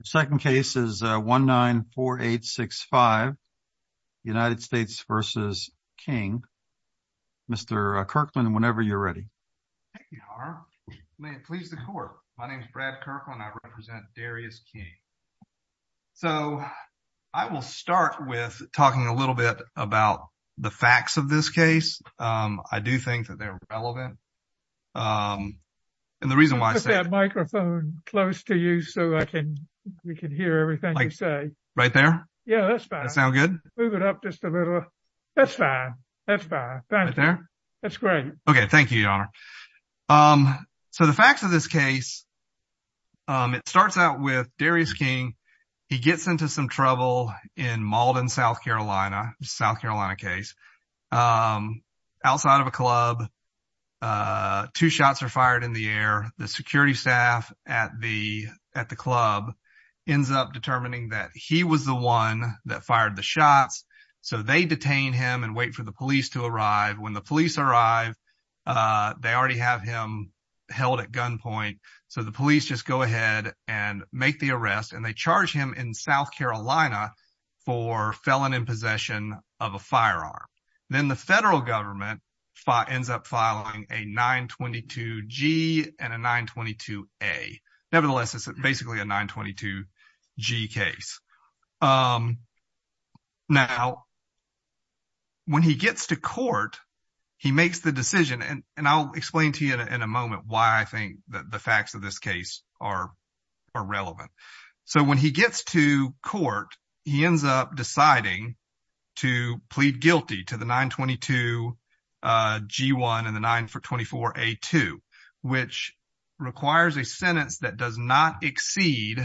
The second case is 194865, United States v. King. Mr. Kirkland, whenever you're ready. Thank you, Harv. May it please the court. My name is Brad Kirkland. I represent Darrius King. So, I will start with talking a little bit about the facts of this case. I do think that they're we can hear everything you say. Right there? Yeah, that's fine. Sound good? Move it up just a little. That's fine. That's fine. Thank you. Right there? That's great. Okay, thank you, your honor. So, the facts of this case, it starts out with Darrius King. He gets into some trouble in Malden, South Carolina. South Carolina case. Outside of a club, two shots are fired in the the security staff at the club ends up determining that he was the one that fired the shots. So, they detain him and wait for the police to arrive. When the police arrive, they already have him held at gunpoint. So, the police just go ahead and make the arrest and they charge him in South Carolina for felon in possession of a firearm. Then the federal government ends up filing a 922-G and a 922-A. Nevertheless, it's basically a 922-G case. Now, when he gets to court, he makes the decision and I'll explain to you in a moment why I think the facts of this case are relevant. So, when he gets to court, he ends up deciding to plead guilty to the 922-G1 and the 924-A2, which requires a sentence that does not exceed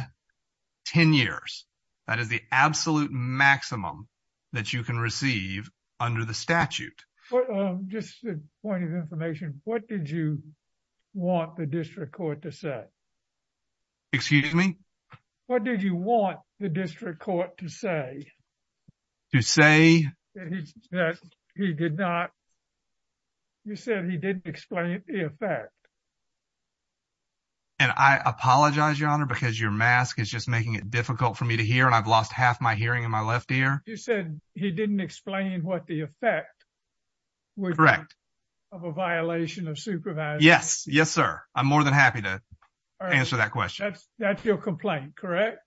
10 years. That is the absolute maximum that you can receive under the statute. Just a point of information, what did you want the district court to say? Excuse me? What did you want the district court to say? To say? You said he didn't explain the effect. And I apologize, your honor, because your mask is just making it difficult for me to hear and I've lost half my hearing in my left ear. You said he didn't explain what the effect would be of a violation of supervision. Yes, yes, sir. I'm more than happy to answer that question. That's your complaint, correct?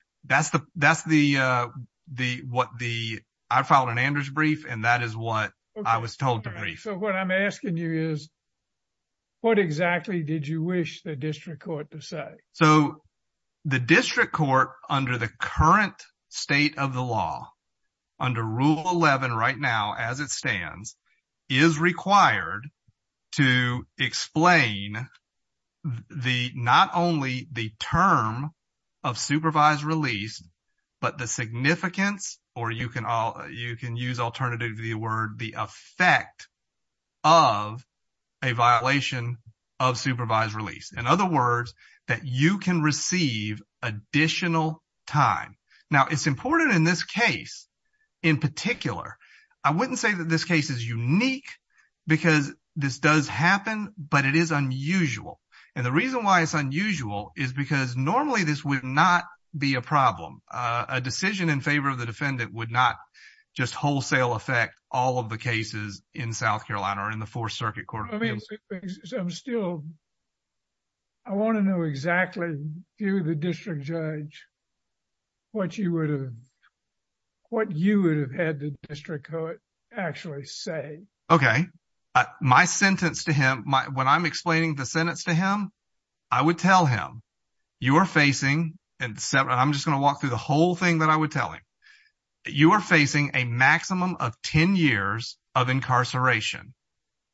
I filed an Andrews brief and that is what I was told to brief. So, what I'm asking you is, what exactly did you wish the district court to say? So, the district court under the current state of the law, under Rule 11 right now as it stands, is required to explain not only the term of supervised release, but the significance, or you can use alternatively the word, the effect of a violation of supervised release. In other words, that you can receive additional time. Now, it's important in this case, in particular, I wouldn't say that this case is unique because this does happen, but it is unusual. And the reason why it's unusual is because normally this would not be a problem. A decision in favor of the defendant would not just wholesale effect all of the cases in South Carolina or in the Fourth Circuit Court of Appeals. So, I'm still, I want to know exactly, to the district judge, what you would have, what you would have had the district court actually say. Okay. My sentence to him, when I'm explaining the sentence to him, I would tell him, you are facing, and I'm just going to walk through the whole thing that I would tell him, you are facing a maximum of 10 years of incarceration.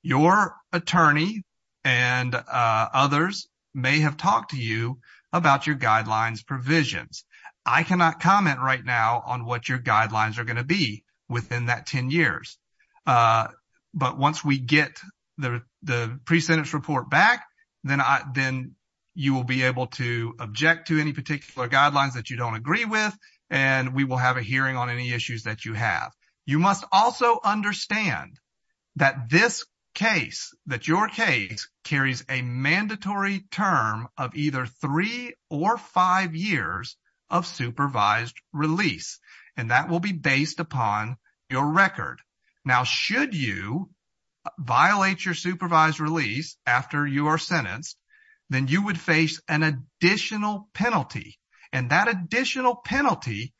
Your attorney and others may have talked to you about your guidelines provisions. I cannot comment right now on what your guidelines are going to be within that 10 years. But once we get the pre-sentence report back, then you will be able to object to any particular guidelines that you don't agree with, and we will have a hearing on any issues that you have. You must also understand that this case, that your case carries a mandatory term of either three or five years of supervised release, and that will be based upon your record. Now, should you violate your supervised release after you are sentenced, then you would face an additional penalty, and that additional penalty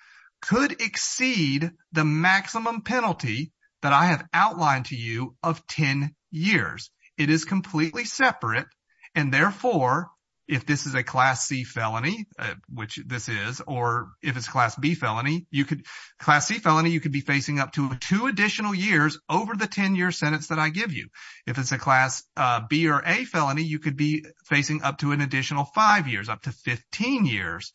could exceed the maximum penalty that I have outlined to you of 10 years. It is completely separate, and therefore, if this is a Class C felony, which this is, or if it's Class B felony, you could, Class C felony, you could be facing up to two additional years over the 10-year sentence that I give you. If it's a Class B or A felony, you could be facing up to an additional five years, up to 15 years,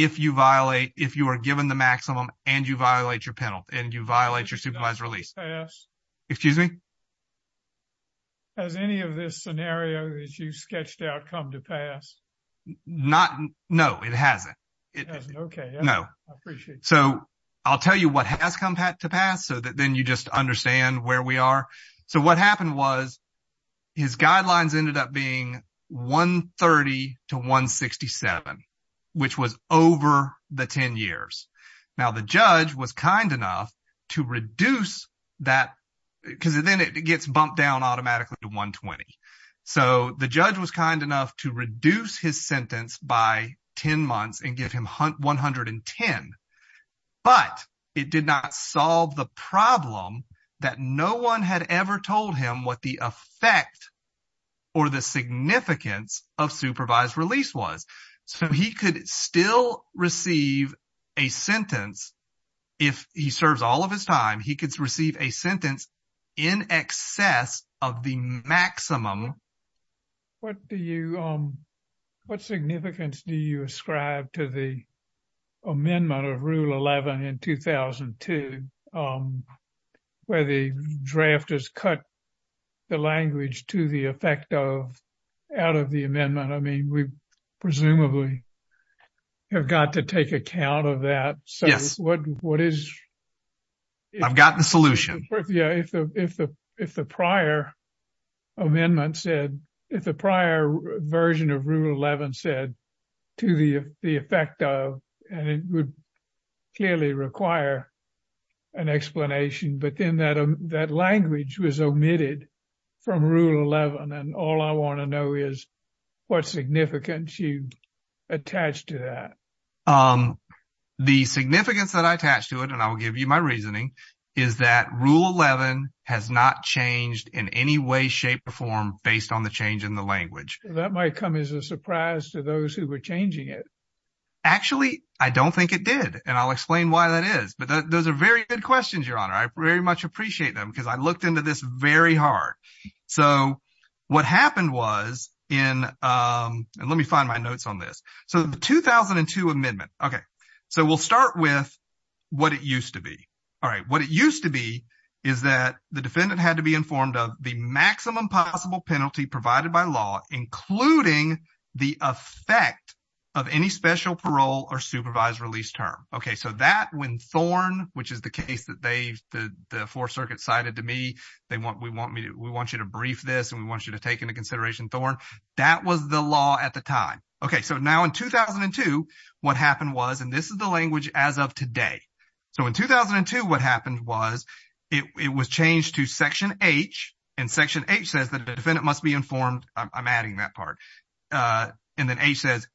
if you violate, if you are given the maximum and you violate your penalty, and you violate your supervised release. Excuse me? Has any of this scenario that you sketched out come to pass? Not, no, it hasn't. It hasn't, okay. No. I appreciate that. So, I'll tell you what has come to pass, so that then you just understand where we are. So, what happened was, his guidelines ended up being 130 to 167, which was over the 10 years. Now, the judge was kind enough to reduce that, because then it gets bumped down automatically to 120. So, the judge was kind enough to reduce his sentence by 10 months and give him 110, but it did not solve the problem that no one had ever told him what the effect or the significance of supervised release was. So, he could still receive a sentence, if he serves all of his time, he could receive a sentence in excess of the maximum. What do you, what significance do you ascribe to the amendment of Rule 11 in 2002, where the drafters cut the language to the effect of, out of the amendment? I mean, we presumably have got to take account of that. So, what is... I've got the solution. Yeah, if the prior amendment said, if the prior version of Rule 11 said, to the effect of, and it would clearly require an explanation, but then that language was omitted from Rule 11, and all I want to know is what significance you attach to that. The significance that I attach to it, and I will give you my reasoning, is that Rule 11 has not changed in any way, shape, or form based on the change in the language. That might come as a surprise to those who were changing it. Actually, I don't think it did. And I'll explain why that is. But those are very good questions, Your Honor. I very much appreciate them, because I looked into this very hard. So, what happened was in, and let me find my notes on this. So, the 2002 amendment. Okay. So, we'll start with what it used to be. All right. What it used to be is that the defendant had to be informed of the maximum possible penalty provided by law, including the effect of any special parole or supervised release term. Okay. So, that when Thorne, which is the case that they, the Fourth Circuit cited to me, they want, we want me to, we want you to brief this, and we want you to take into consideration Thorne. That was the law at the time. Okay. So, now in 2002, what happened was, and this is the language as of today. So, in 2002, what happened was, it was changed to Section H, and Section H says that the defendant must be informed. I'm adding that part. And then H says,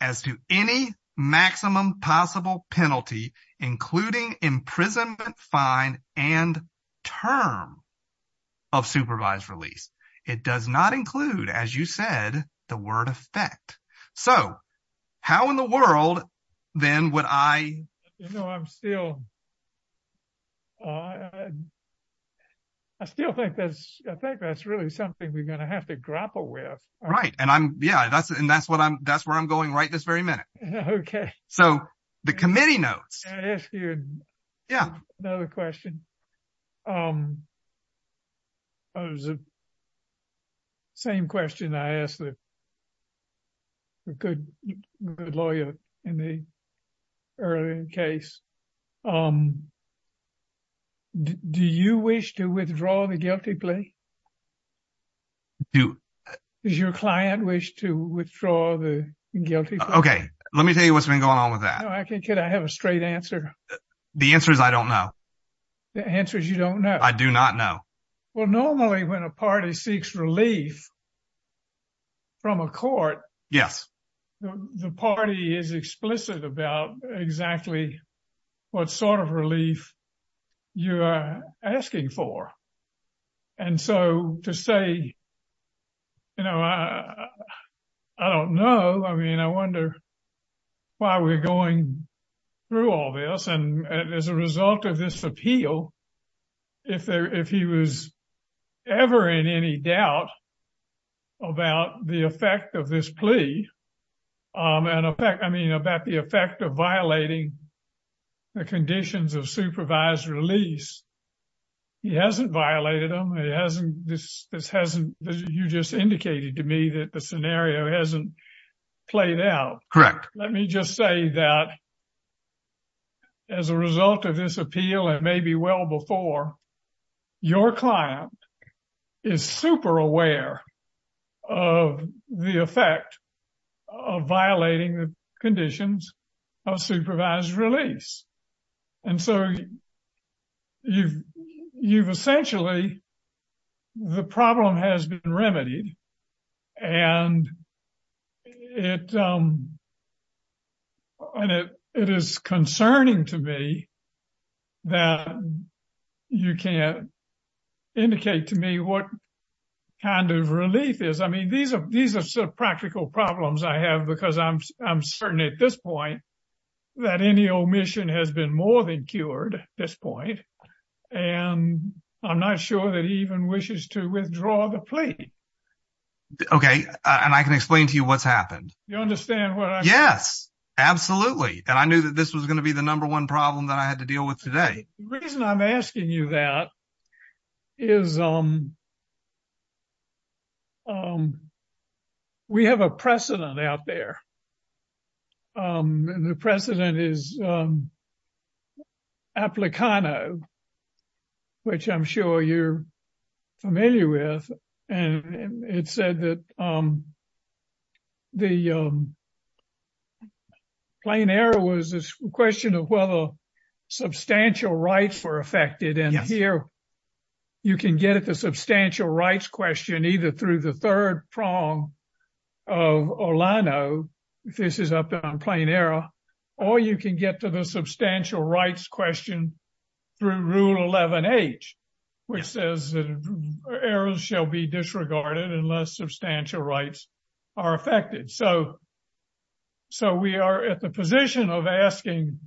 as to any maximum possible penalty, including imprisonment, fine, and term of supervised release. It does not include, as you said, the word effect. So, how in the world then would I? You know, I'm still, I still think that's, I think that's really something we're going to have to grapple with. Right. And I'm, yeah, that's, and that's what I'm, that's where I'm going right this very minute. Okay. So, the committee notes. Can I ask you another question? It was the same question I asked the good, good lawyer in the earlier case. Do you wish to withdraw the guilty plea? Does your client wish to withdraw the guilty plea? Okay. Let me tell you what's been going on with that. Could I have a straight answer? The answer is, I don't know. The answer is, you don't know. I do not know. Well, normally, when a party seeks relief from a court, yes, the party is explicit about exactly what sort of relief you are asking for. And so, to say, you know, I don't know. I mean, I wonder why we're going through all this. And please, I mean, about the effect of violating the conditions of supervised release. He hasn't violated them. He hasn't, this hasn't, you just indicated to me that the scenario hasn't played out. Correct. Let me just say that as a result of this appeal, and maybe well before, your client is super aware of the effect of violating the conditions of supervised release. And so, you've essentially, the problem has been remedied. And it is concerning to me that you can't indicate to me what kind of relief is. I mean, these are sort of practical problems I have because I'm certain at this point that any omission has been more than cured at this point. And I'm not sure that he even wishes to withdraw the plea. Okay, and I can explain to you what's happened. You understand what I'm saying? Yes, absolutely. And I knew that this was going to number one problem that I had to deal with today. The reason I'm asking you that is we have a precedent out there. And the precedent is the Plain Error, which I'm sure you're familiar with. And it said that the Plain Error was a question of whether substantial rights were affected. And here, you can get at the substantial rights question either through the third prong of Orlano, if this is up on Plain Error, or you can get to the substantial rights question through Rule 11H, which says that errors shall be disregarded unless substantial rights are affected. So, we are at the position of asking,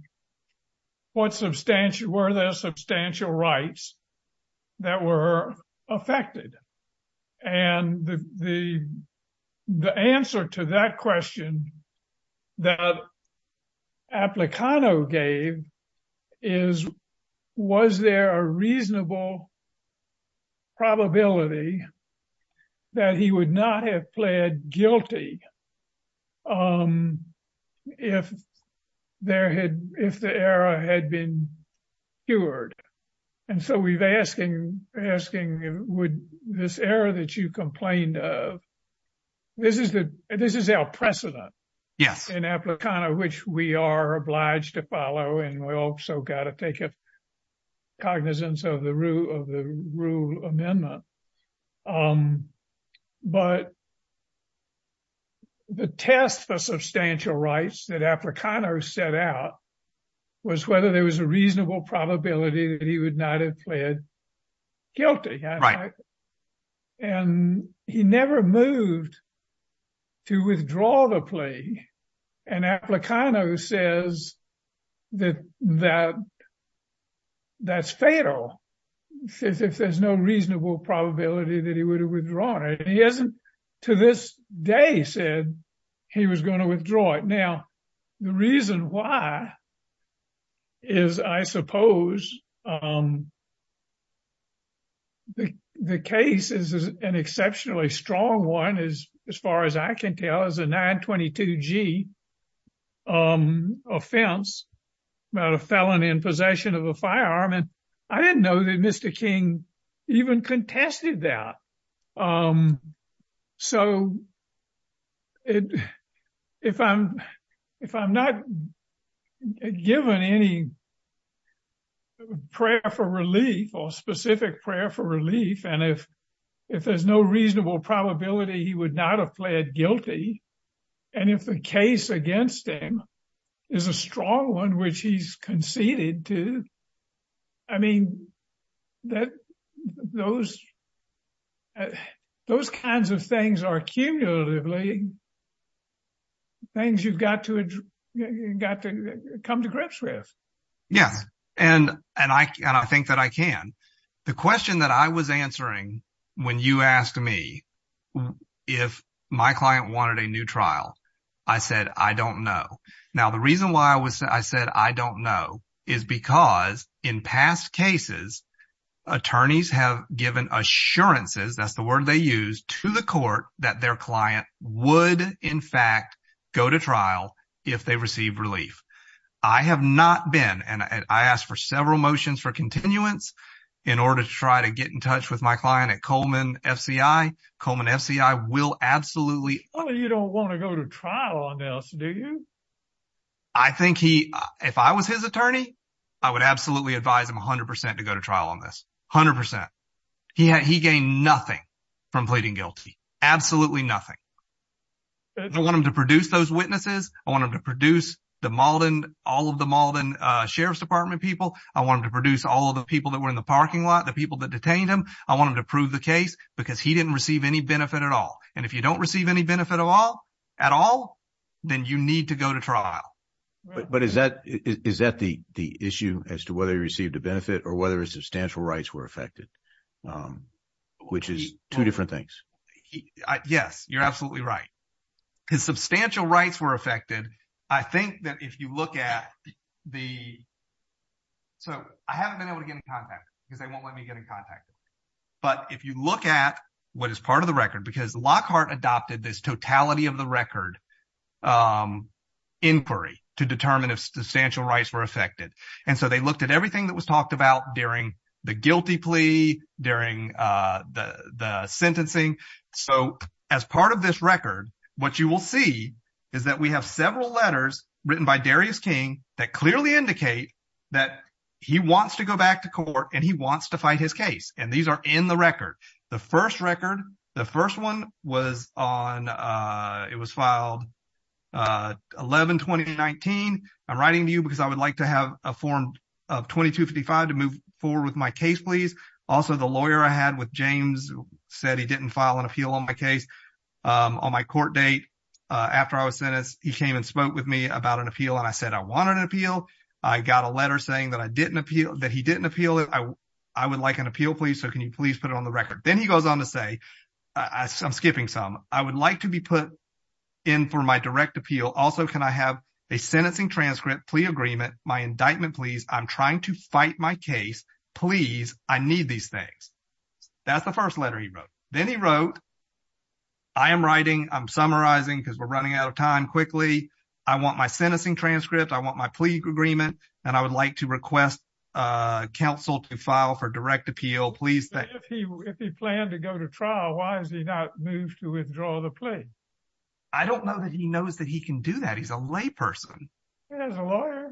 were there substantial rights that were affected? And the answer to that question that Applicano gave is, was there a reasonable probability that he would not have pled guilty if the error had been cured? And so, we're asking, would this error that you complained of, this is our precedent in Applicano, which we are obliged to follow. And we also got to take cognizance of the rule of the rule amendment. But the test for substantial rights that Applicano set out was whether there was a reasonable probability that he would not have pled guilty. And he never moved to withdraw the plea. And Applicano says that that's fatal if there's no reasonable probability that he would have withdrawn it. He hasn't, to this day, he was going to withdraw it. Now, the reason why is, I suppose, the case is an exceptionally strong one, as far as I can tell. It's a 922G offense about a felon in possession of a firearm. And I didn't know that Mr. King even contested that. So, if I'm not given any prayer for relief or specific prayer for relief, and if there's no reasonable probability he would not have pled guilty, and if the case against him is a strong one, which he's conceded to, I mean, those kinds of things are cumulatively things you've got to come to grips with. Yes. And I think that I can. The question that I was answering when you asked me if my client wanted a new trial, I said, I don't know. Now, the reason why I said I don't know is because in past cases, attorneys have given assurances, that's the word they use, to the court that their client would, in fact, go to trial if they received relief. I have not been, and I asked for several motions for continuance in order to try to get in touch with my client at Coleman FCI. Coleman FCI will absolutely... You don't want to go to trial on this, do you? I think he, if I was his attorney, I would absolutely advise him 100% to go to trial on this. 100%. He gained nothing from pleading guilty. Absolutely nothing. I want him to produce those witnesses. I want him to produce the Maldon, all of the Maldon Sheriff's Department people. I want him to produce all of the people that were in the parking lot, the people that detained him. I want him to prove the case because he didn't receive any benefit at all. If you don't receive any benefit at all, then you need to go to trial. But is that the issue as to whether he received a benefit or whether his substantial rights were affected, which is two different things? Yes, you're absolutely right. His substantial rights were affected. I think that if you look at the... I haven't been able to get in contact because they won't let me get in contact. But if you look at what is part of the record, because Lockhart adopted this totality of the record inquiry to determine if substantial rights were affected. And so they looked at everything that was talked about during the guilty plea, during the sentencing. So as part of this record, what you will see is that we have several letters written by Darius King that clearly indicate that he wants to go back to court and he wants to fight his case. And these are in the record. The first record, the first one was on... It was filed 11-2019. I'm writing to you because I would like to have a form of 2255 to move forward with my case, please. Also, the lawyer I had with James said he didn't file an appeal on my case. On my court date after I was sentenced, he came and spoke with me about an appeal. And I said, I wanted an appeal. I got a letter saying that he didn't appeal. I would like an appeal, please. So can you please put it on the record? Then he goes on to say, I'm skipping some. I would like to be put in for my direct appeal. Also, can I have a sentencing transcript, plea agreement, my indictment, please? I'm trying to fight my case. Please, I need these things. That's the first letter he wrote. Then he wrote, I am writing. I'm summarizing because we're running out of time quickly. I want my sentencing transcript. I want my plea agreement. And I would like to request counsel to file for direct appeal, please. If he planned to go to trial, why has he not moved to withdraw the plea? I don't know that he knows that he can do that. He's a layperson. He has a lawyer.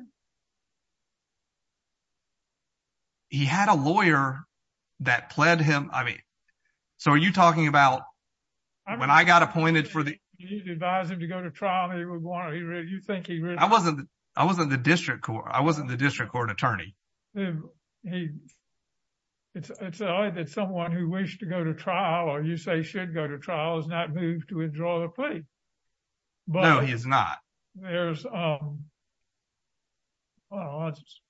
He had a lawyer that pled him. I mean, so are you talking about when I got appointed for the- You advised him to go to trial. You think he really- I wasn't the district court. I wasn't the district court attorney. It's either someone who wished to go to trial, or you say should go to trial, has not moved to withdraw the plea. No, he has not. Well, I'll just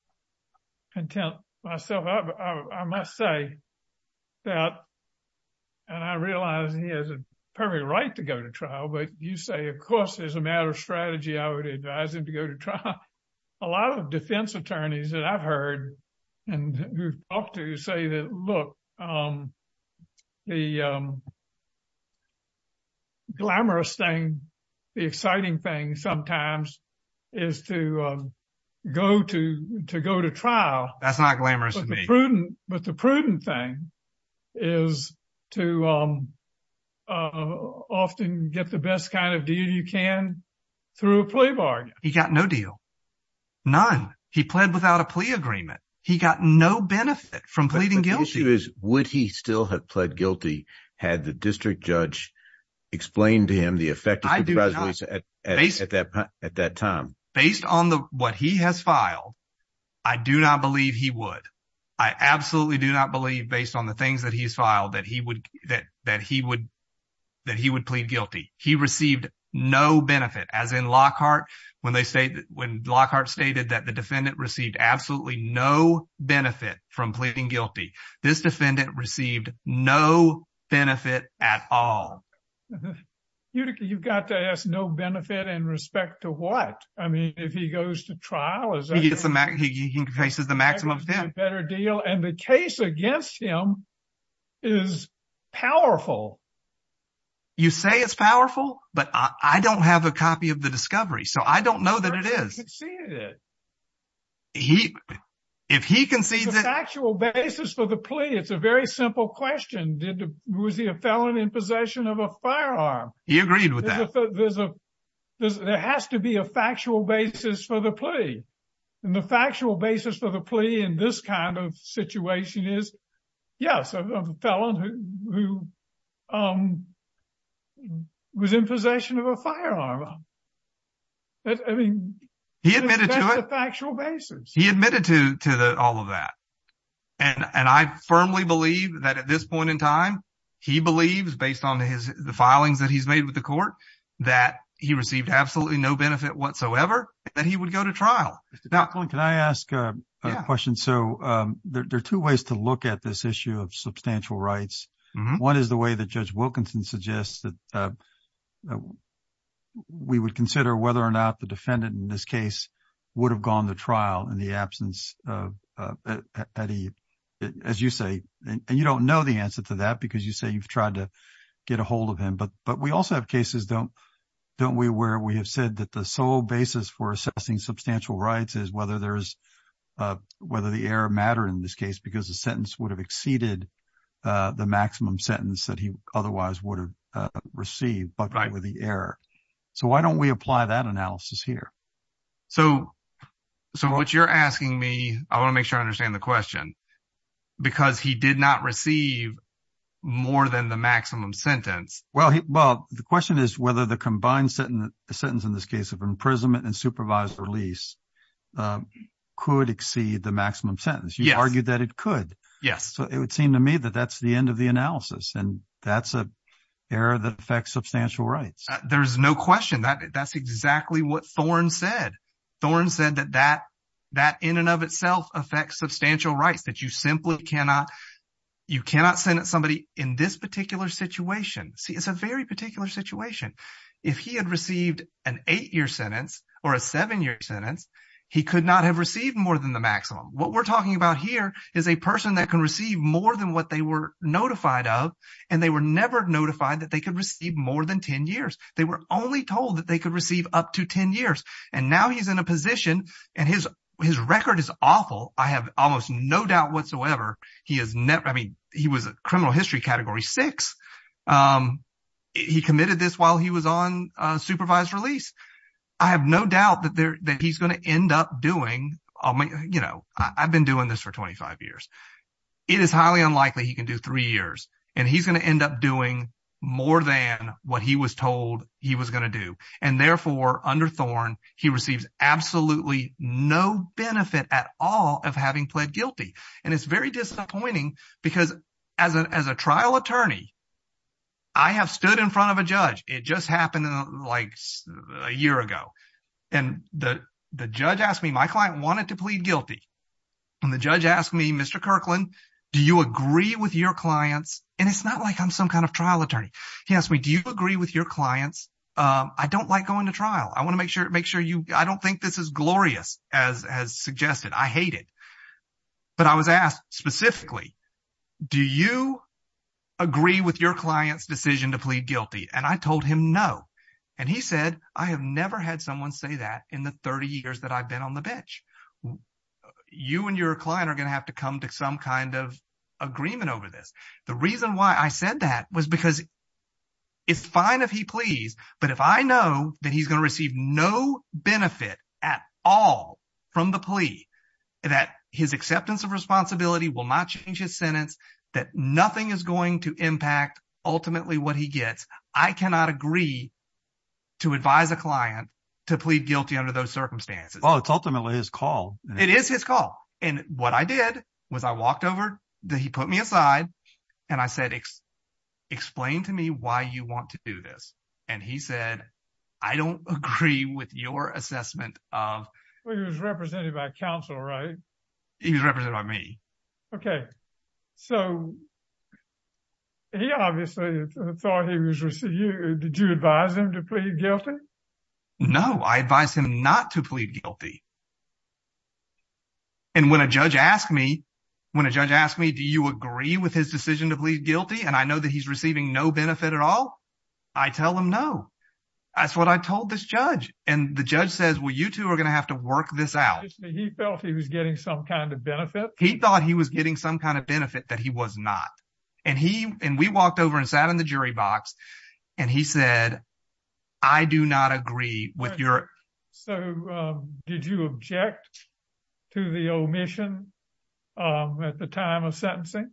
content myself. I must say that, and I realize he has a perfect right to go to trial, but you say, of course, there's a matter of strategy. I would advise him to go to trial. A lot of defense attorneys that I've heard and talked to say that, look, the glamorous thing, the exciting thing sometimes is to go to trial. That's not glamorous to me. But the prudent thing is to often get the best kind of deal you can through a plea bargain. He got no deal. None. He pled without a plea agreement. He got no benefit from pleading guilty. Would he still have pled guilty had the district judge explained to him the effect of- at that time? Based on what he has filed, I do not believe he would. I absolutely do not believe, based on the things that he's filed, that he would plead guilty. He received no benefit. As in Lockhart, when Lockhart stated that the defendant received absolutely no benefit from pleading guilty, this defendant received no benefit at all. You've got to ask, no benefit in respect to what? I mean, if he goes to trial, is that- He gets the maximum. He faces the maximum. Is that a better deal? And the case against him is powerful. You say it's powerful, but I don't have a copy of the discovery, so I don't know that it is. He conceded it. He- if he concedes it- The factual basis for the plea, it's a very simple question. Was he a felon in possession of a firearm? He agreed with that. There's a- there has to be a factual basis for the plea. And the factual basis for the plea in this kind of situation is, yes, a felon who was in possession of a firearm. I mean- He admitted to it. He admitted to the- all of that. And I firmly believe that at this point in time, he believes, based on his- the filings that he's made with the court, that he received absolutely no benefit whatsoever, that he would go to trial. Can I ask a question? So there are two ways to look at this issue of substantial rights. One is the way that Judge Wilkinson suggests that we would consider whether or not the defendant in this case would have gone to trial in the absence of- as you say. And you don't know the answer to that because you say you've tried to get a hold of him. But we also have cases, don't we, where we have said that the sole basis for assessing substantial rights is whether there's- whether the error mattered in this case because the sentence would have exceeded the maximum sentence that he otherwise would have received but with the error. So why don't we apply that analysis here? So what you're asking me- I want to make sure I understand the question- because he did not receive more than the maximum sentence. Well, the question is whether the combined sentence in this case of imprisonment and supervised release could exceed the maximum sentence. You argued that it could. Yes. It would seem to me that that's the end of the analysis and that's an error that affects substantial rights. There's no question. That's exactly what Thorne said. Thorne said that that in and of itself affects substantial rights, that you simply cannot- you cannot sentence somebody in this particular situation. See, it's a very particular situation. If he had received an eight-year sentence or a seven-year sentence, he could not have received more than the maximum. What we're talking about here is a person that can receive more than what they were notified of and they were never notified that they could receive more than 10 years. They were only told that they could receive up to 10 years. And now he's in a position and his record is awful. I have almost no doubt whatsoever. He is never- I mean, he was a criminal history category six. He committed this while he was on supervised release. I have no doubt that he's going to end up doing- you know, I've been doing this for 25 years. It is highly unlikely he can do three years. And he's going to end up doing more than what he was told he was going to do. And therefore, under Thorne, he receives absolutely no benefit at all of having pled guilty. And it's very disappointing because as a trial attorney, I have stood in front of a judge. It just happened like a year ago. And the judge asked me, my client wanted to plead guilty. And the judge asked me, Mr. Kirkland, do you agree with your clients? And it's not like I'm some kind of trial attorney. He asked me, do you agree with your clients? I don't like going to trial. I want to make sure you- I don't think this is glorious as suggested. I hate it. But I was asked specifically, do you agree with your client's decision to plead guilty? And I told him no. And he said, I have never had someone say that in the 30 years that I've been on the bench. You and your client are going to have to come to some kind of agreement over this. The reason why I said that was because it's fine if he pleads, but if I know that he's going to receive no benefit at all from the plea, that his acceptance of responsibility will not change his sentence, that nothing is going to impact ultimately what he gets, I cannot agree to advise a client to plead guilty under those circumstances. Well, it's ultimately his call. It is his call. And what I did was I walked over, he put me aside, and I said, explain to me why you want to do this. And he said, I don't agree with your assessment of- Well, he was represented by counsel, right? He was represented by me. Okay, so he obviously thought he was receiving- Did you advise him to plead guilty? No, I advised him not to plead guilty. And when a judge asked me, when a judge asked me, do you agree with his decision to plead guilty, and I know that he's receiving no benefit at all, I tell him no. That's what I told this judge. And the judge says, well, you two are going to have to work this out. He felt he was getting some kind of benefit. He thought he was getting some kind of benefit that he was not. And we walked over and sat in the jury box, and he said, I do not agree with your- So, did you object to the omission at the time of sentencing?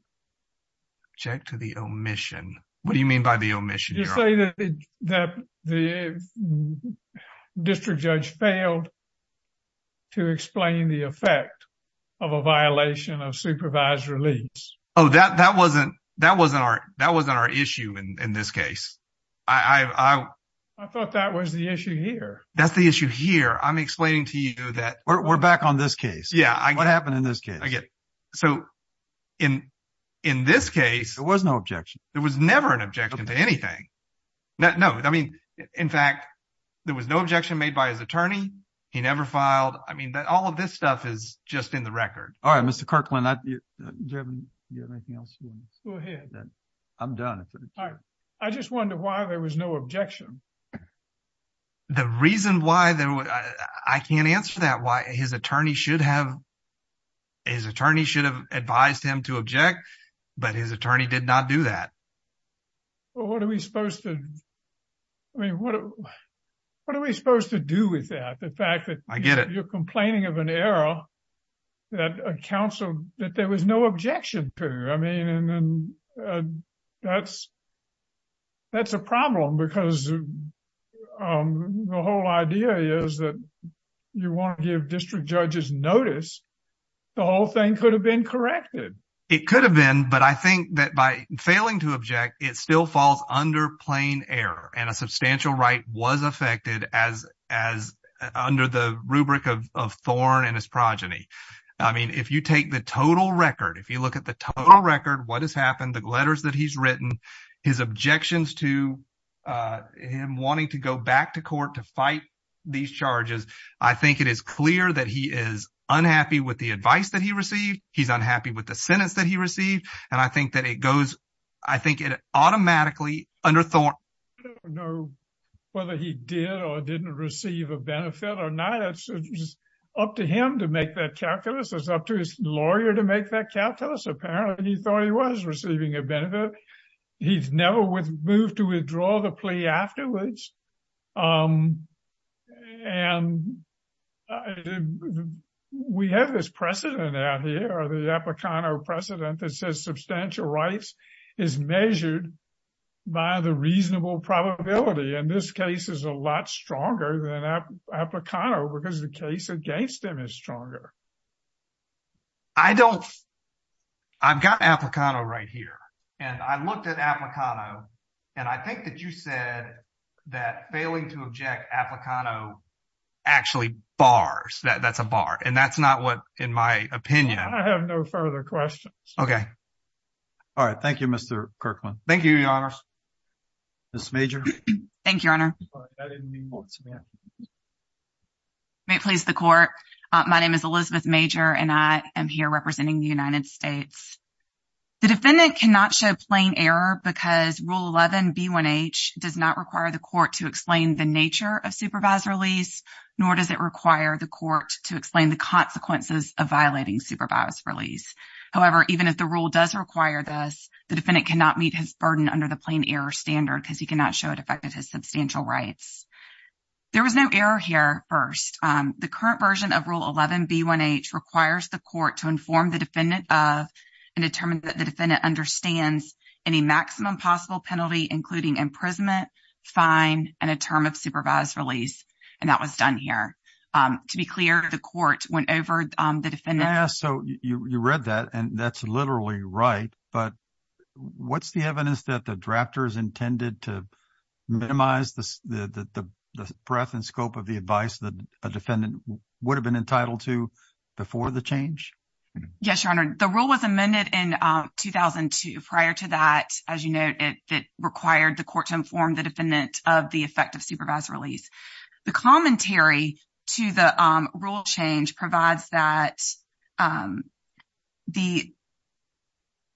Object to the omission? What do you mean by the omission? You say that the district judge failed to explain the effect of a violation of supervised release. Oh, that wasn't our issue in this case. I thought that was the issue here. That's the issue here. I'm explaining to you that- We're back on this case. Yeah, I get it. What happened in this case? I get it. So, in this case- There was no objection. There was never an objection to anything. No, I mean, in fact, there was no objection made by his attorney. He never filed. I mean, all of this stuff is just in the record. All right, Mr. Kirkland, do you have anything else? Go ahead. I'm done. I just wonder why there was no objection. The reason why there was- I can't answer that, why his attorney should have advised him to object, but his attorney did not do that. Well, what are we supposed to- I mean, what are we supposed to do with that? The fact that- I get it. You're complaining of an error that there was no objection to. I mean, that's a problem because the whole idea is that you want to give district judges notice. The whole thing could have been corrected. It could have been, but I think that by failing to object, it still falls under plain error and a substantial right was affected under the rubric of Thorne and his progeny. I mean, if you take the total record, if you look at the total record, what has happened, the letters that he's written, his objections to him wanting to go back to court to fight these charges, I think it is clear that he is unhappy with the advice that he received. He's unhappy with the sentence that he received. And I think that it goes, I think it automatically under Thorne. I don't know whether he did or didn't receive a benefit or not. It's up to him to make that calculus. It's up to his lawyer to make that calculus. Apparently he thought he was receiving a benefit. He's never moved to withdraw the plea afterwards. And we have this precedent out here, the Aplicano precedent that says substantial rights is measured by the reasonable probability. And this case is a lot stronger than Aplicano because the case against him is stronger. I don't, I've got Aplicano right here and I looked at Aplicano and I think that you said that failing to object Aplicano actually bars, that's a bar. And that's not what, in my opinion. I have no further questions. Okay. All right. Thank you, Mr. Kirkland. Thank you, Your Honor. Ms. Major. Thank you, Your Honor. May it please the court. My name is Elizabeth Major and I am here representing the United States. The defendant cannot show plain error because Rule 11B1H does not require the court to explain the nature of supervised release, nor does it require the court to explain the consequences of violating supervised release. However, even if the rule does require this, the defendant cannot meet his burden under the plain error standard because he cannot show it affected his substantial rights. There was no error here first. The current version of Rule 11B1H requires the court to inform the defendant of and determine that the defendant understands any maximum possible penalty, including imprisonment, fine, and a term of supervised release. And that was done here. To be clear, the court went over the defendant. Yeah, so you read that and that's literally right. But what's the evidence that the drafters intended to minimize the breadth and scope of the advice that a defendant would have been entitled to before the change? Yes, Your Honor. The rule was amended in 2002. Prior to that, as you note, it required the court to inform the defendant of the effect of supervised release. The commentary to the rule change provides that the,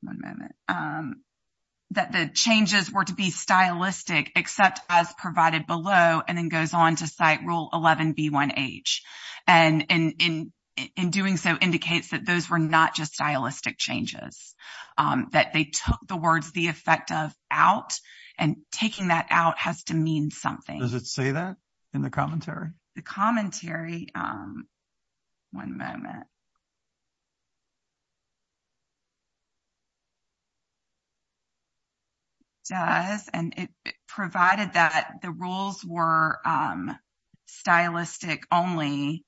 one moment, that the changes were to be stylistic, except as provided below, and then goes on to cite Rule 11B1H. And in doing so, indicates that those were not just stylistic changes, that they took the words the effect of out, and taking that out has to mean something. Does it say that in the commentary? The commentary, one moment. It does, and it provided that the rules were stylistic only.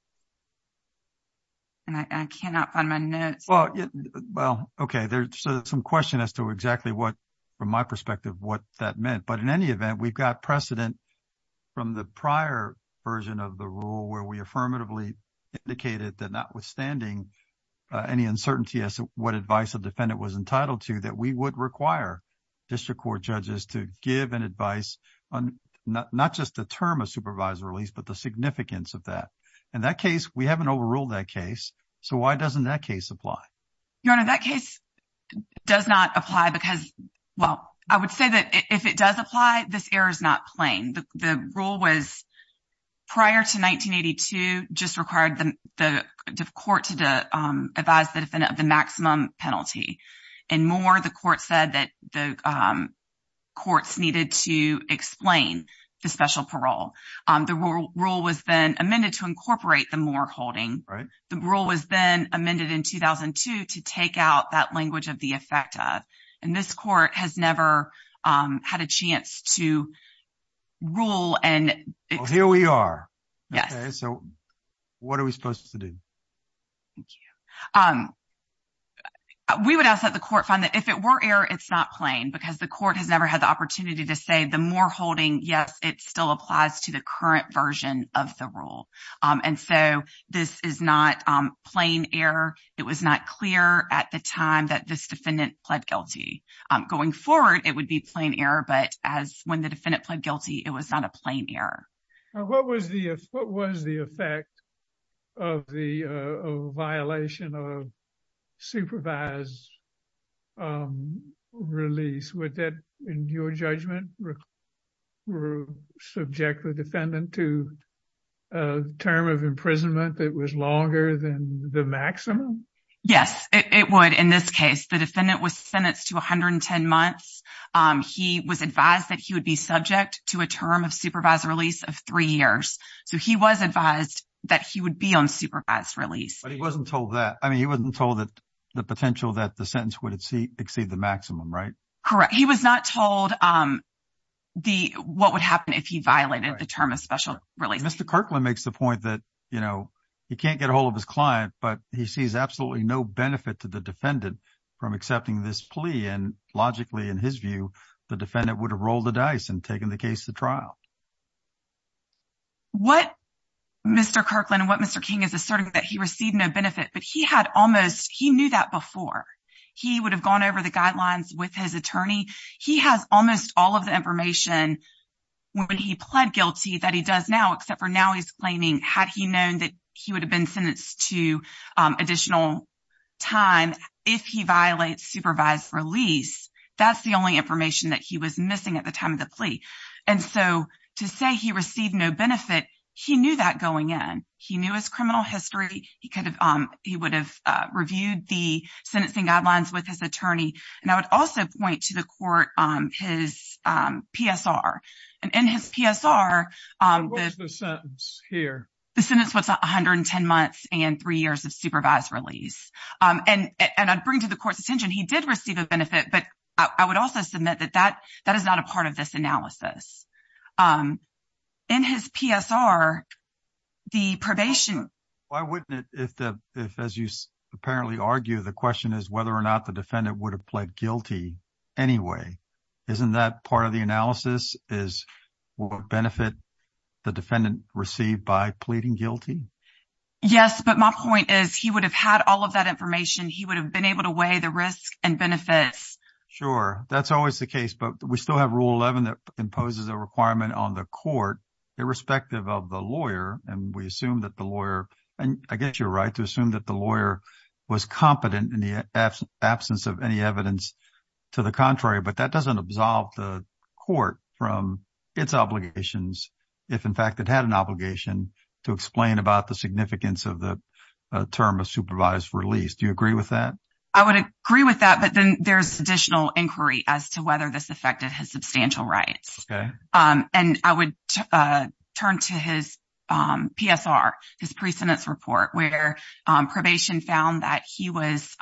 And I cannot find my notes. Well, okay. There's some question as to exactly what, from my perspective, what that meant. But in any event, we've got precedent from the prior version of the rule where we affirmatively indicated that notwithstanding any uncertainty as to what advice a defendant was entitled to, that we would require district court judges to give an advice on not just the term of supervised release, but the significance of that. In that case, we haven't overruled that case. So why doesn't that case apply? Your Honor, that case does not apply because, well, I would say that if it does apply, this error is not plain. The rule was, prior to 1982, just required the court to advise the defendant of the maximum penalty. In Moore, the court said that the courts needed to explain the special parole. The rule was then amended to incorporate the Moore holding. The rule was then amended in 2002 to take out that language of the effect of. And this court has never had a chance to rule and- Well, here we are. Yes. So what are we supposed to do? Thank you. We would ask that the court find that if it were error, it's not plain because the court has never had the opportunity to say the Moore holding, yes, it still applies to the current version of the rule. And so this is not plain error. It was not clear at the time that this defendant pled guilty. Going forward, it would be plain error, but as when the defendant pled guilty, it was not a plain error. What was the effect of the violation of supervised release? Would that, in your judgment, subject the defendant to a term of imprisonment that was maximum? Yes, it would. In this case, the defendant was sentenced to 110 months. He was advised that he would be subject to a term of supervised release of three years. So he was advised that he would be on supervised release. But he wasn't told that. I mean, he wasn't told that the potential that the sentence would exceed the maximum, right? Correct. He was not told what would happen if he violated the term of special release. Mr. Kirkland makes the point that he can't get a hold of his client, but he sees absolutely no benefit to the defendant from accepting this plea. And logically, in his view, the defendant would have rolled the dice and taken the case to trial. What Mr. Kirkland and what Mr. King is asserting is that he received no benefit, but he knew that before. He would have gone over the guidelines with his attorney. He has almost all of the information when he pled guilty that he does now, except for now he's claiming had he known that he would have been sentenced to additional time if he violates supervised release. That's the only information that he was missing at the time of the plea. And so to say he received no benefit, he knew that going in. He knew his criminal history. He would have reviewed the sentencing guidelines with his attorney. And I would also point to the court on his PSR and in his PSR, the sentence here, the sentence was 110 months and three years of supervised release. And I'd bring to the court's attention. He did receive a benefit, but I would also submit that that that is not a part of this analysis. In his PSR, the probation. Why wouldn't it if the if, as you apparently argue, the question is whether or not the defendant would have pled guilty anyway, isn't that part of the analysis is what benefit the defendant received by pleading guilty? Yes, but my point is he would have had all of that information. He would have been able to weigh the risk and benefits. Sure, that's always the case. But we still have Rule 11 that imposes a requirement on the court irrespective of the I guess you're right to assume that the lawyer was competent in the absence of any evidence to the contrary. But that doesn't absolve the court from its obligations. If, in fact, it had an obligation to explain about the significance of the term of supervised release. Do you agree with that? I would agree with that. But then there's additional inquiry as to whether this affected his substantial rights. And I would turn to his PSR, his precedence report where probation found that he was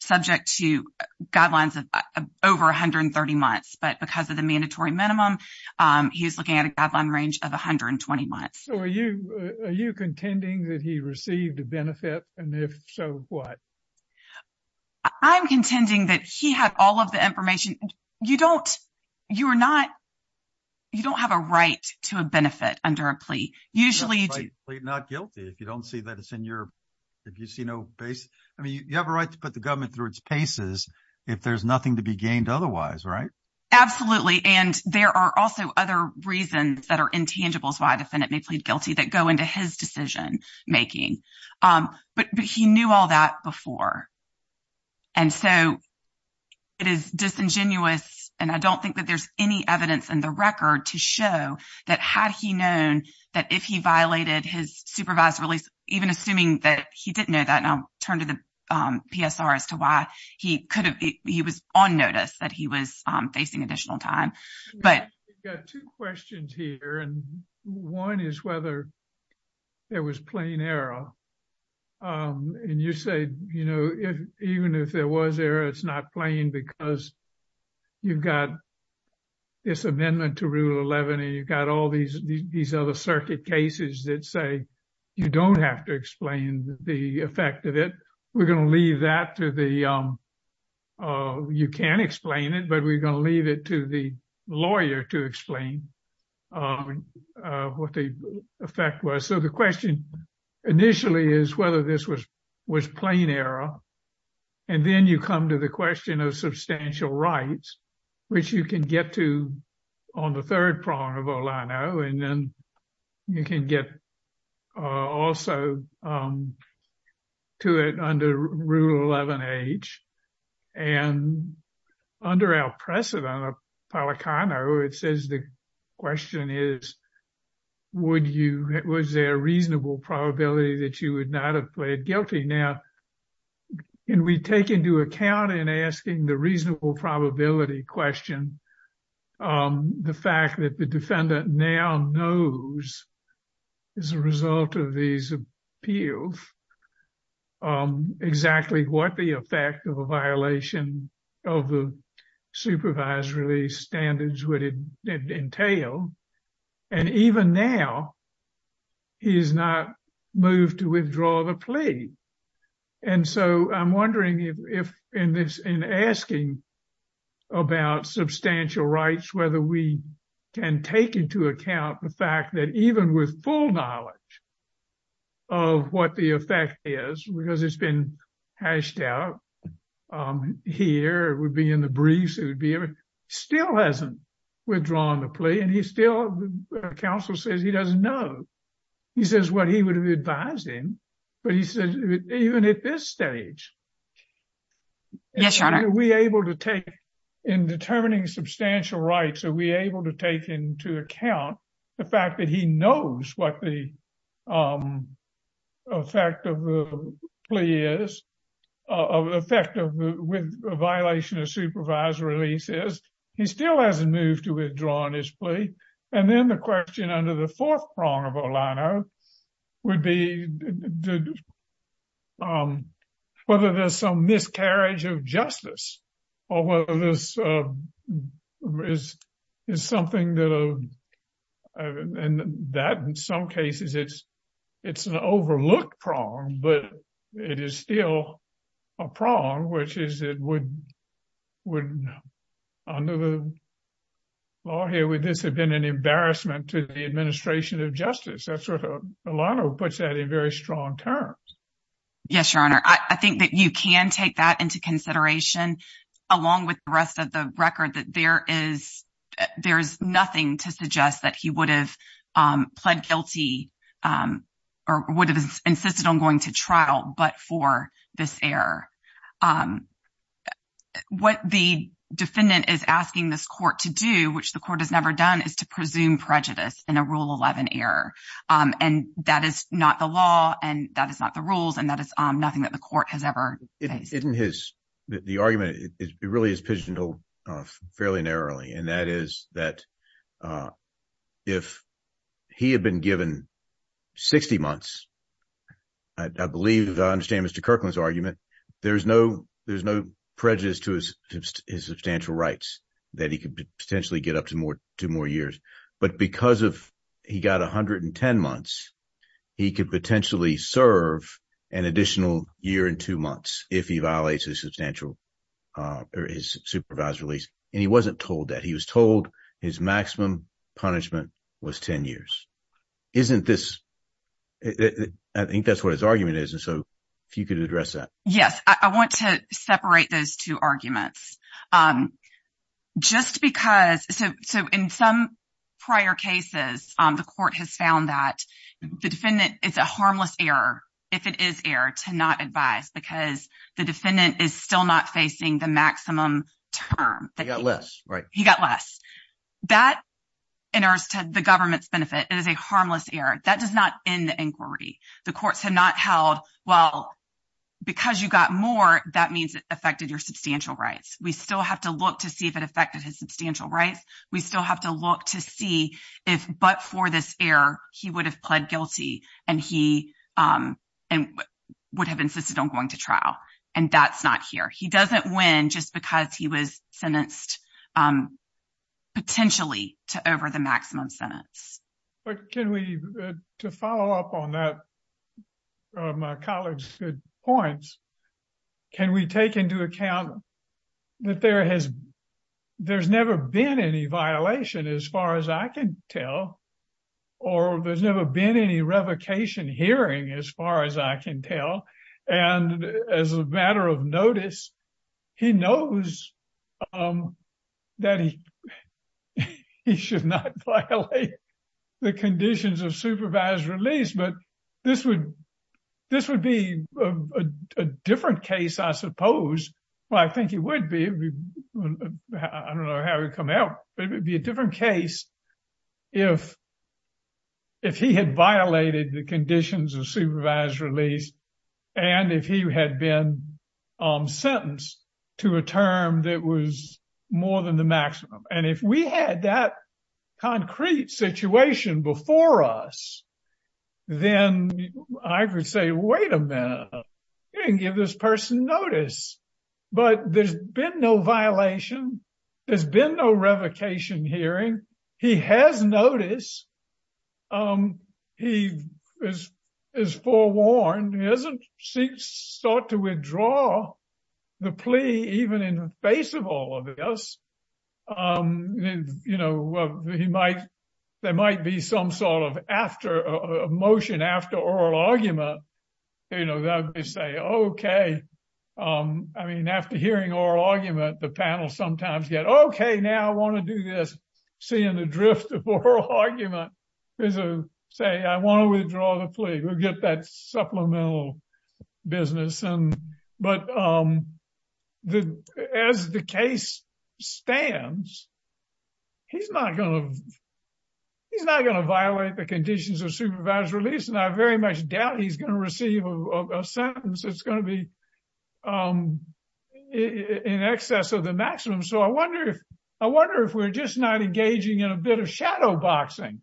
subject to guidelines of over 130 months. But because of the mandatory minimum, he was looking at a guideline range of 120 months. So are you contending that he received a benefit? And if so, what? I'm contending that he had all of the information. You don't, you're not, you don't have a right to a benefit under a plea. Usually you do not guilty if you don't see that it's in your, if you see no base. I mean, you have a right to put the government through its paces if there's nothing to be gained otherwise, right? Absolutely. And there are also other reasons that are intangible. So I defendant may plead guilty that go into his decision making. But he knew all that before. And so it is disingenuous. And I don't think that there's any evidence in the record to show that had he known that if he violated his supervised release, even assuming that he didn't know that, and I'll turn to the PSR as to why he could have, he was on notice that he was facing additional time. But. Two questions here. And one is whether there was plain error. And you say, you know, even if there was error, it's not playing because you've got this amendment to Rule 11 and you've got all these, these other circuit cases that say you don't have to explain the effect of it. We're going to leave that to the, you can't explain it, but we're going to leave it to the lawyer to explain what the effect was. The question initially is whether this was was plain error. And then you come to the question of substantial rights, which you can get to on the third prong of Olano, and then you can get also to it under Rule 11H. And under our precedent of Policano, it says the question is, would you, was there a reasonable probability that you would not have pled guilty? Now, can we take into account in asking the reasonable probability question, the fact that the defendant now knows as a result of these appeals exactly what the effect of a violation of the supervised release standards would entail? And even now, he is not moved to withdraw the plea. And so I'm wondering if in this, in asking about substantial rights, whether we can take into account the fact that even with full knowledge of what the effect is, because it's been hashed out here, it would be in the briefs, it would be, still hasn't withdrawn the plea. And he still, counsel says he doesn't know. He says what he would have advised him. But he said, even at this stage, are we able to take, in determining substantial rights, are we able to take into account the fact that he knows what the effect of the plea is, effect of the violation of supervised releases? He still hasn't moved to withdraw his plea. And then the question under the fourth prong of Olano would be whether there's some miscarriage of justice, or whether this is something that, in some cases, it's an overlooked prong, but it is still a prong, which is it would, under the law here, would this have been an embarrassment to the administration of justice? That's what Olano puts that in very strong terms. Yes, Your Honor, I think that you can take that into consideration, along with the rest of the record, that there is nothing to suggest that he would have pled guilty, or would have insisted on going to trial, but for this error. What the defendant is asking this court to do, which the court has never done, is to presume prejudice in a Rule 11 error. And that is not the law, and that is not the rules, and that is nothing that the court has ever faced. Isn't his, the argument, it really is pigeonholed fairly narrowly, and that is that if he had been given 60 months, I believe, I understand Mr. Kirkland's argument, there's no prejudice to his substantial rights that he could potentially get up to more years. But because of he got 110 months, he could potentially serve an additional year and two months if he violates his substantial, or his supervised release. And he wasn't told that. He was told his maximum punishment was 10 years. Isn't this, I think that's what his argument is, and so if you could address that. Yes, I want to separate those two arguments. Just because, so in some prior cases, the court has found that the defendant, it's a harmless error, if it is error, to not advise, because the defendant is still not facing the maximum term. He got less, right? He got less. That enters to the government's benefit. It is a harmless error. That does not end the inquiry. The courts have not held, well, because you got more, that means it affected your substantial rights. We still have to look to see if it affected his substantial rights. We still have to look to see if, but for this error, he would have pled guilty, and he would have insisted on going to trial, and that's not here. He doesn't win just because he was sentenced potentially to over the maximum sentence. But can we, to follow up on that, my colleague's good points, can we take into account that there has, there's never been any violation as far as I can tell, or there's never been any revocation hearing as far as I can tell. And as a matter of notice, he knows that he should not violate the conditions of supervised release. But this would be a different case, I suppose. Well, I think it would be. I don't know how it would come out, but it would be a different case if he had violated the conditions of supervised release and if he had been sentenced to a term that was more than the maximum. And if we had that concrete situation before us, then I could say, wait a minute, you didn't give this person notice. But there's been no violation. There's been no revocation hearing. He has notice. He is forewarned. He hasn't sought to withdraw the plea even in the face of all of this. You know, he might, there might be some sort of after, a motion after oral argument, you know, that they say, okay. I mean, after hearing oral argument, the panel sometimes get, okay, now I want to do this. Seeing the drift of oral argument is to say, I want to withdraw the plea. We'll get that supplemental business. But as the case stands, he's not going to violate the conditions of supervised release. And I very much doubt he's going to receive a sentence that's going to be in excess of the maximum. So I wonder if, I wonder if we're just not engaging in a bit of shadow boxing.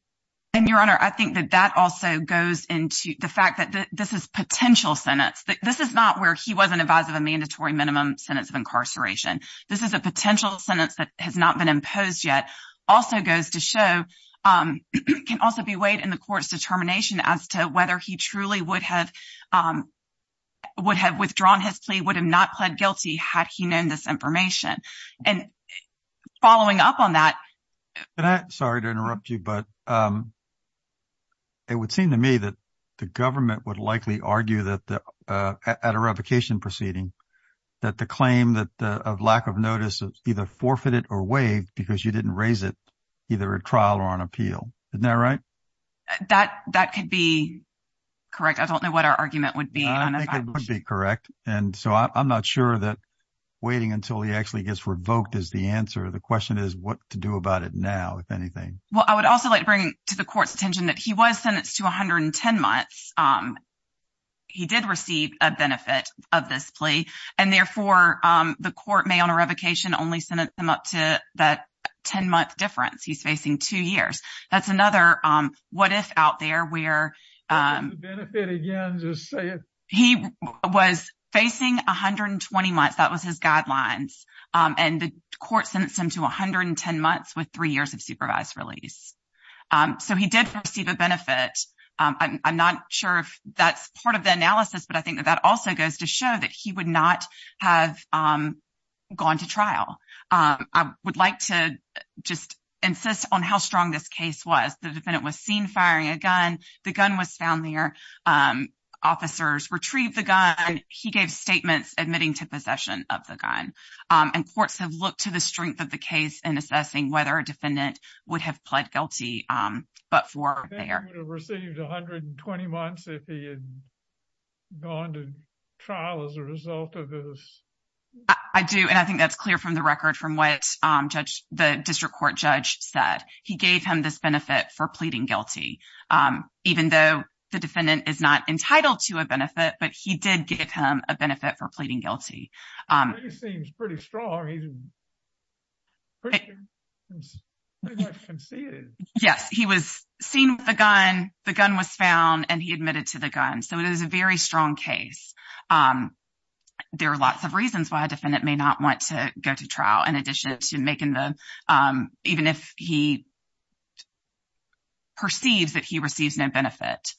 And Your Honor, I think that that also goes into the fact that this is potential sentence. This is not where he wasn't advised of a mandatory minimum sentence of incarceration. This is a potential sentence that has not been imposed yet. Also goes to show, can also be weighed in the court's determination as to whether he truly would have withdrawn his plea, would have not pled guilty had he known this information. And following up on that. And I'm sorry to interrupt you, but it would seem to me that the government would likely argue that at a revocation proceeding, that the claim that of lack of notice of either forfeited or waived because you didn't raise it either at trial or on appeal. Isn't that right? That could be correct. I don't know what our argument would be. I think it would be correct. And so I'm not sure that waiting until he actually gets revoked is the answer. The question is what to do about it now, if anything. Well, I would also like to bring to the court's attention that he was sentenced to 110 months. He did receive a benefit of this plea, and therefore the court may on a revocation only sentence him up to that 10 month difference. He's facing two years. That's another what if out there where. What is the benefit again? Just say it. He was facing 120 months. That was his guidelines, and the court sentenced him to 110 months with three years of supervised release. So he did receive a benefit. I'm not sure if that's part of the analysis, but I think that that also goes to show that he would not have gone to trial. I would like to just insist on how strong this case was. The defendant was seen firing a gun. The gun was found there. Officers retrieved the gun. He gave statements admitting to possession of the gun, and courts have looked to the strength of the case and assessing whether a defendant would have pled guilty. But for received 120 months, if he had gone to trial as a result of this. I do, and I think that's clear from the record from what the district court judge said he gave him this benefit for pleading guilty. Even though the defendant is not entitled to a benefit, but he did give him a benefit for pleading guilty. It seems pretty strong. Yes, he was seen with a gun. The gun was found, and he admitted to the gun. So it is a very strong case. There are lots of reasons why a defendant may not want to go to trial in addition to he perceives that he receives no benefit.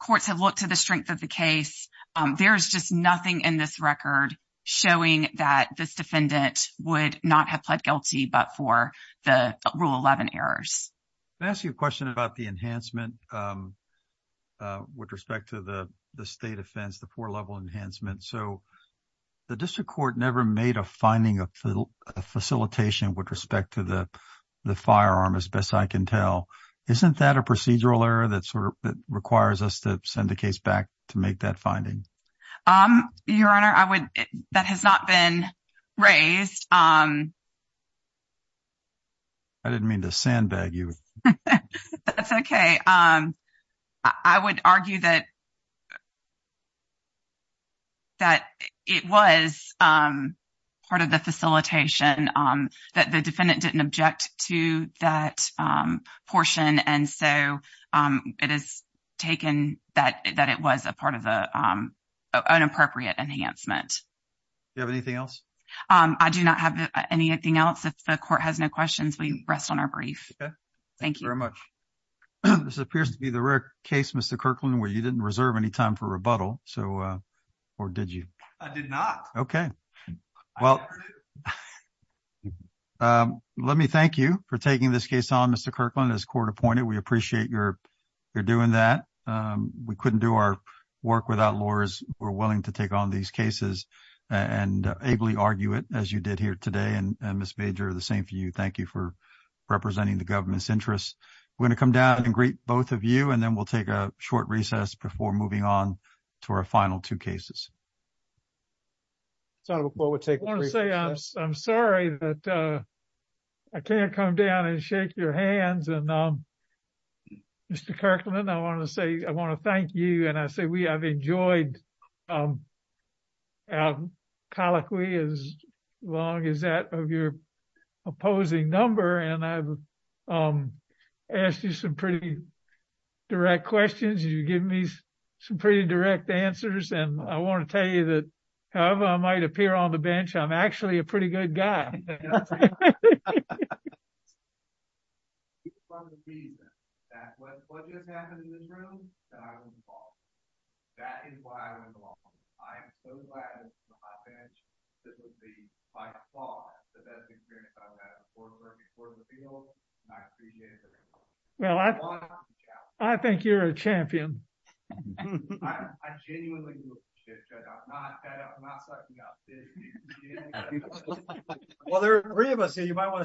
Courts have looked to the strength of the case. There's just nothing in this record showing that this defendant would not have pled guilty, but for the rule 11 errors. Let me ask you a question about the enhancement with respect to the state offense, the four level enhancement. So the district court never made a finding of facilitation with respect to the firearm as best I can tell. Isn't that a procedural error that sort of requires us to send the case back to make that finding? Your Honor, that has not been raised. I didn't mean to sandbag you. That's okay. I would argue that it was part of the facilitation that the defendant didn't object to that portion, and so it is taken that it was a part of the inappropriate enhancement. Do you have anything else? I do not have anything else. If the court has no questions, we rest on our brief. Thank you very much. This appears to be the rare case, Mr. Kirkland, where you didn't reserve any time for rebuttal. Or did you? I did not. Okay. Well, let me thank you for taking this case on, Mr. Kirkland, as court appointed. We appreciate your doing that. We couldn't do our work without lawyers who are willing to take on these cases and ably argue it as you did here today. Thank you for representing the government's interests. We're going to come down and greet both of you, and then we'll take a short recess before moving on to our final two cases. I'm sorry that I can't come down and shake your hands. Mr. Kirkland, I want to thank you, and I say we have enjoyed our colloquy as long as that of your opposing number, and I've asked you some pretty direct questions. You've given me some pretty direct answers, and I want to tell you that however I might appear on the bench, I'm actually a pretty good guy. Well, I think you're a champion. There are three of us here. You might want to shut down.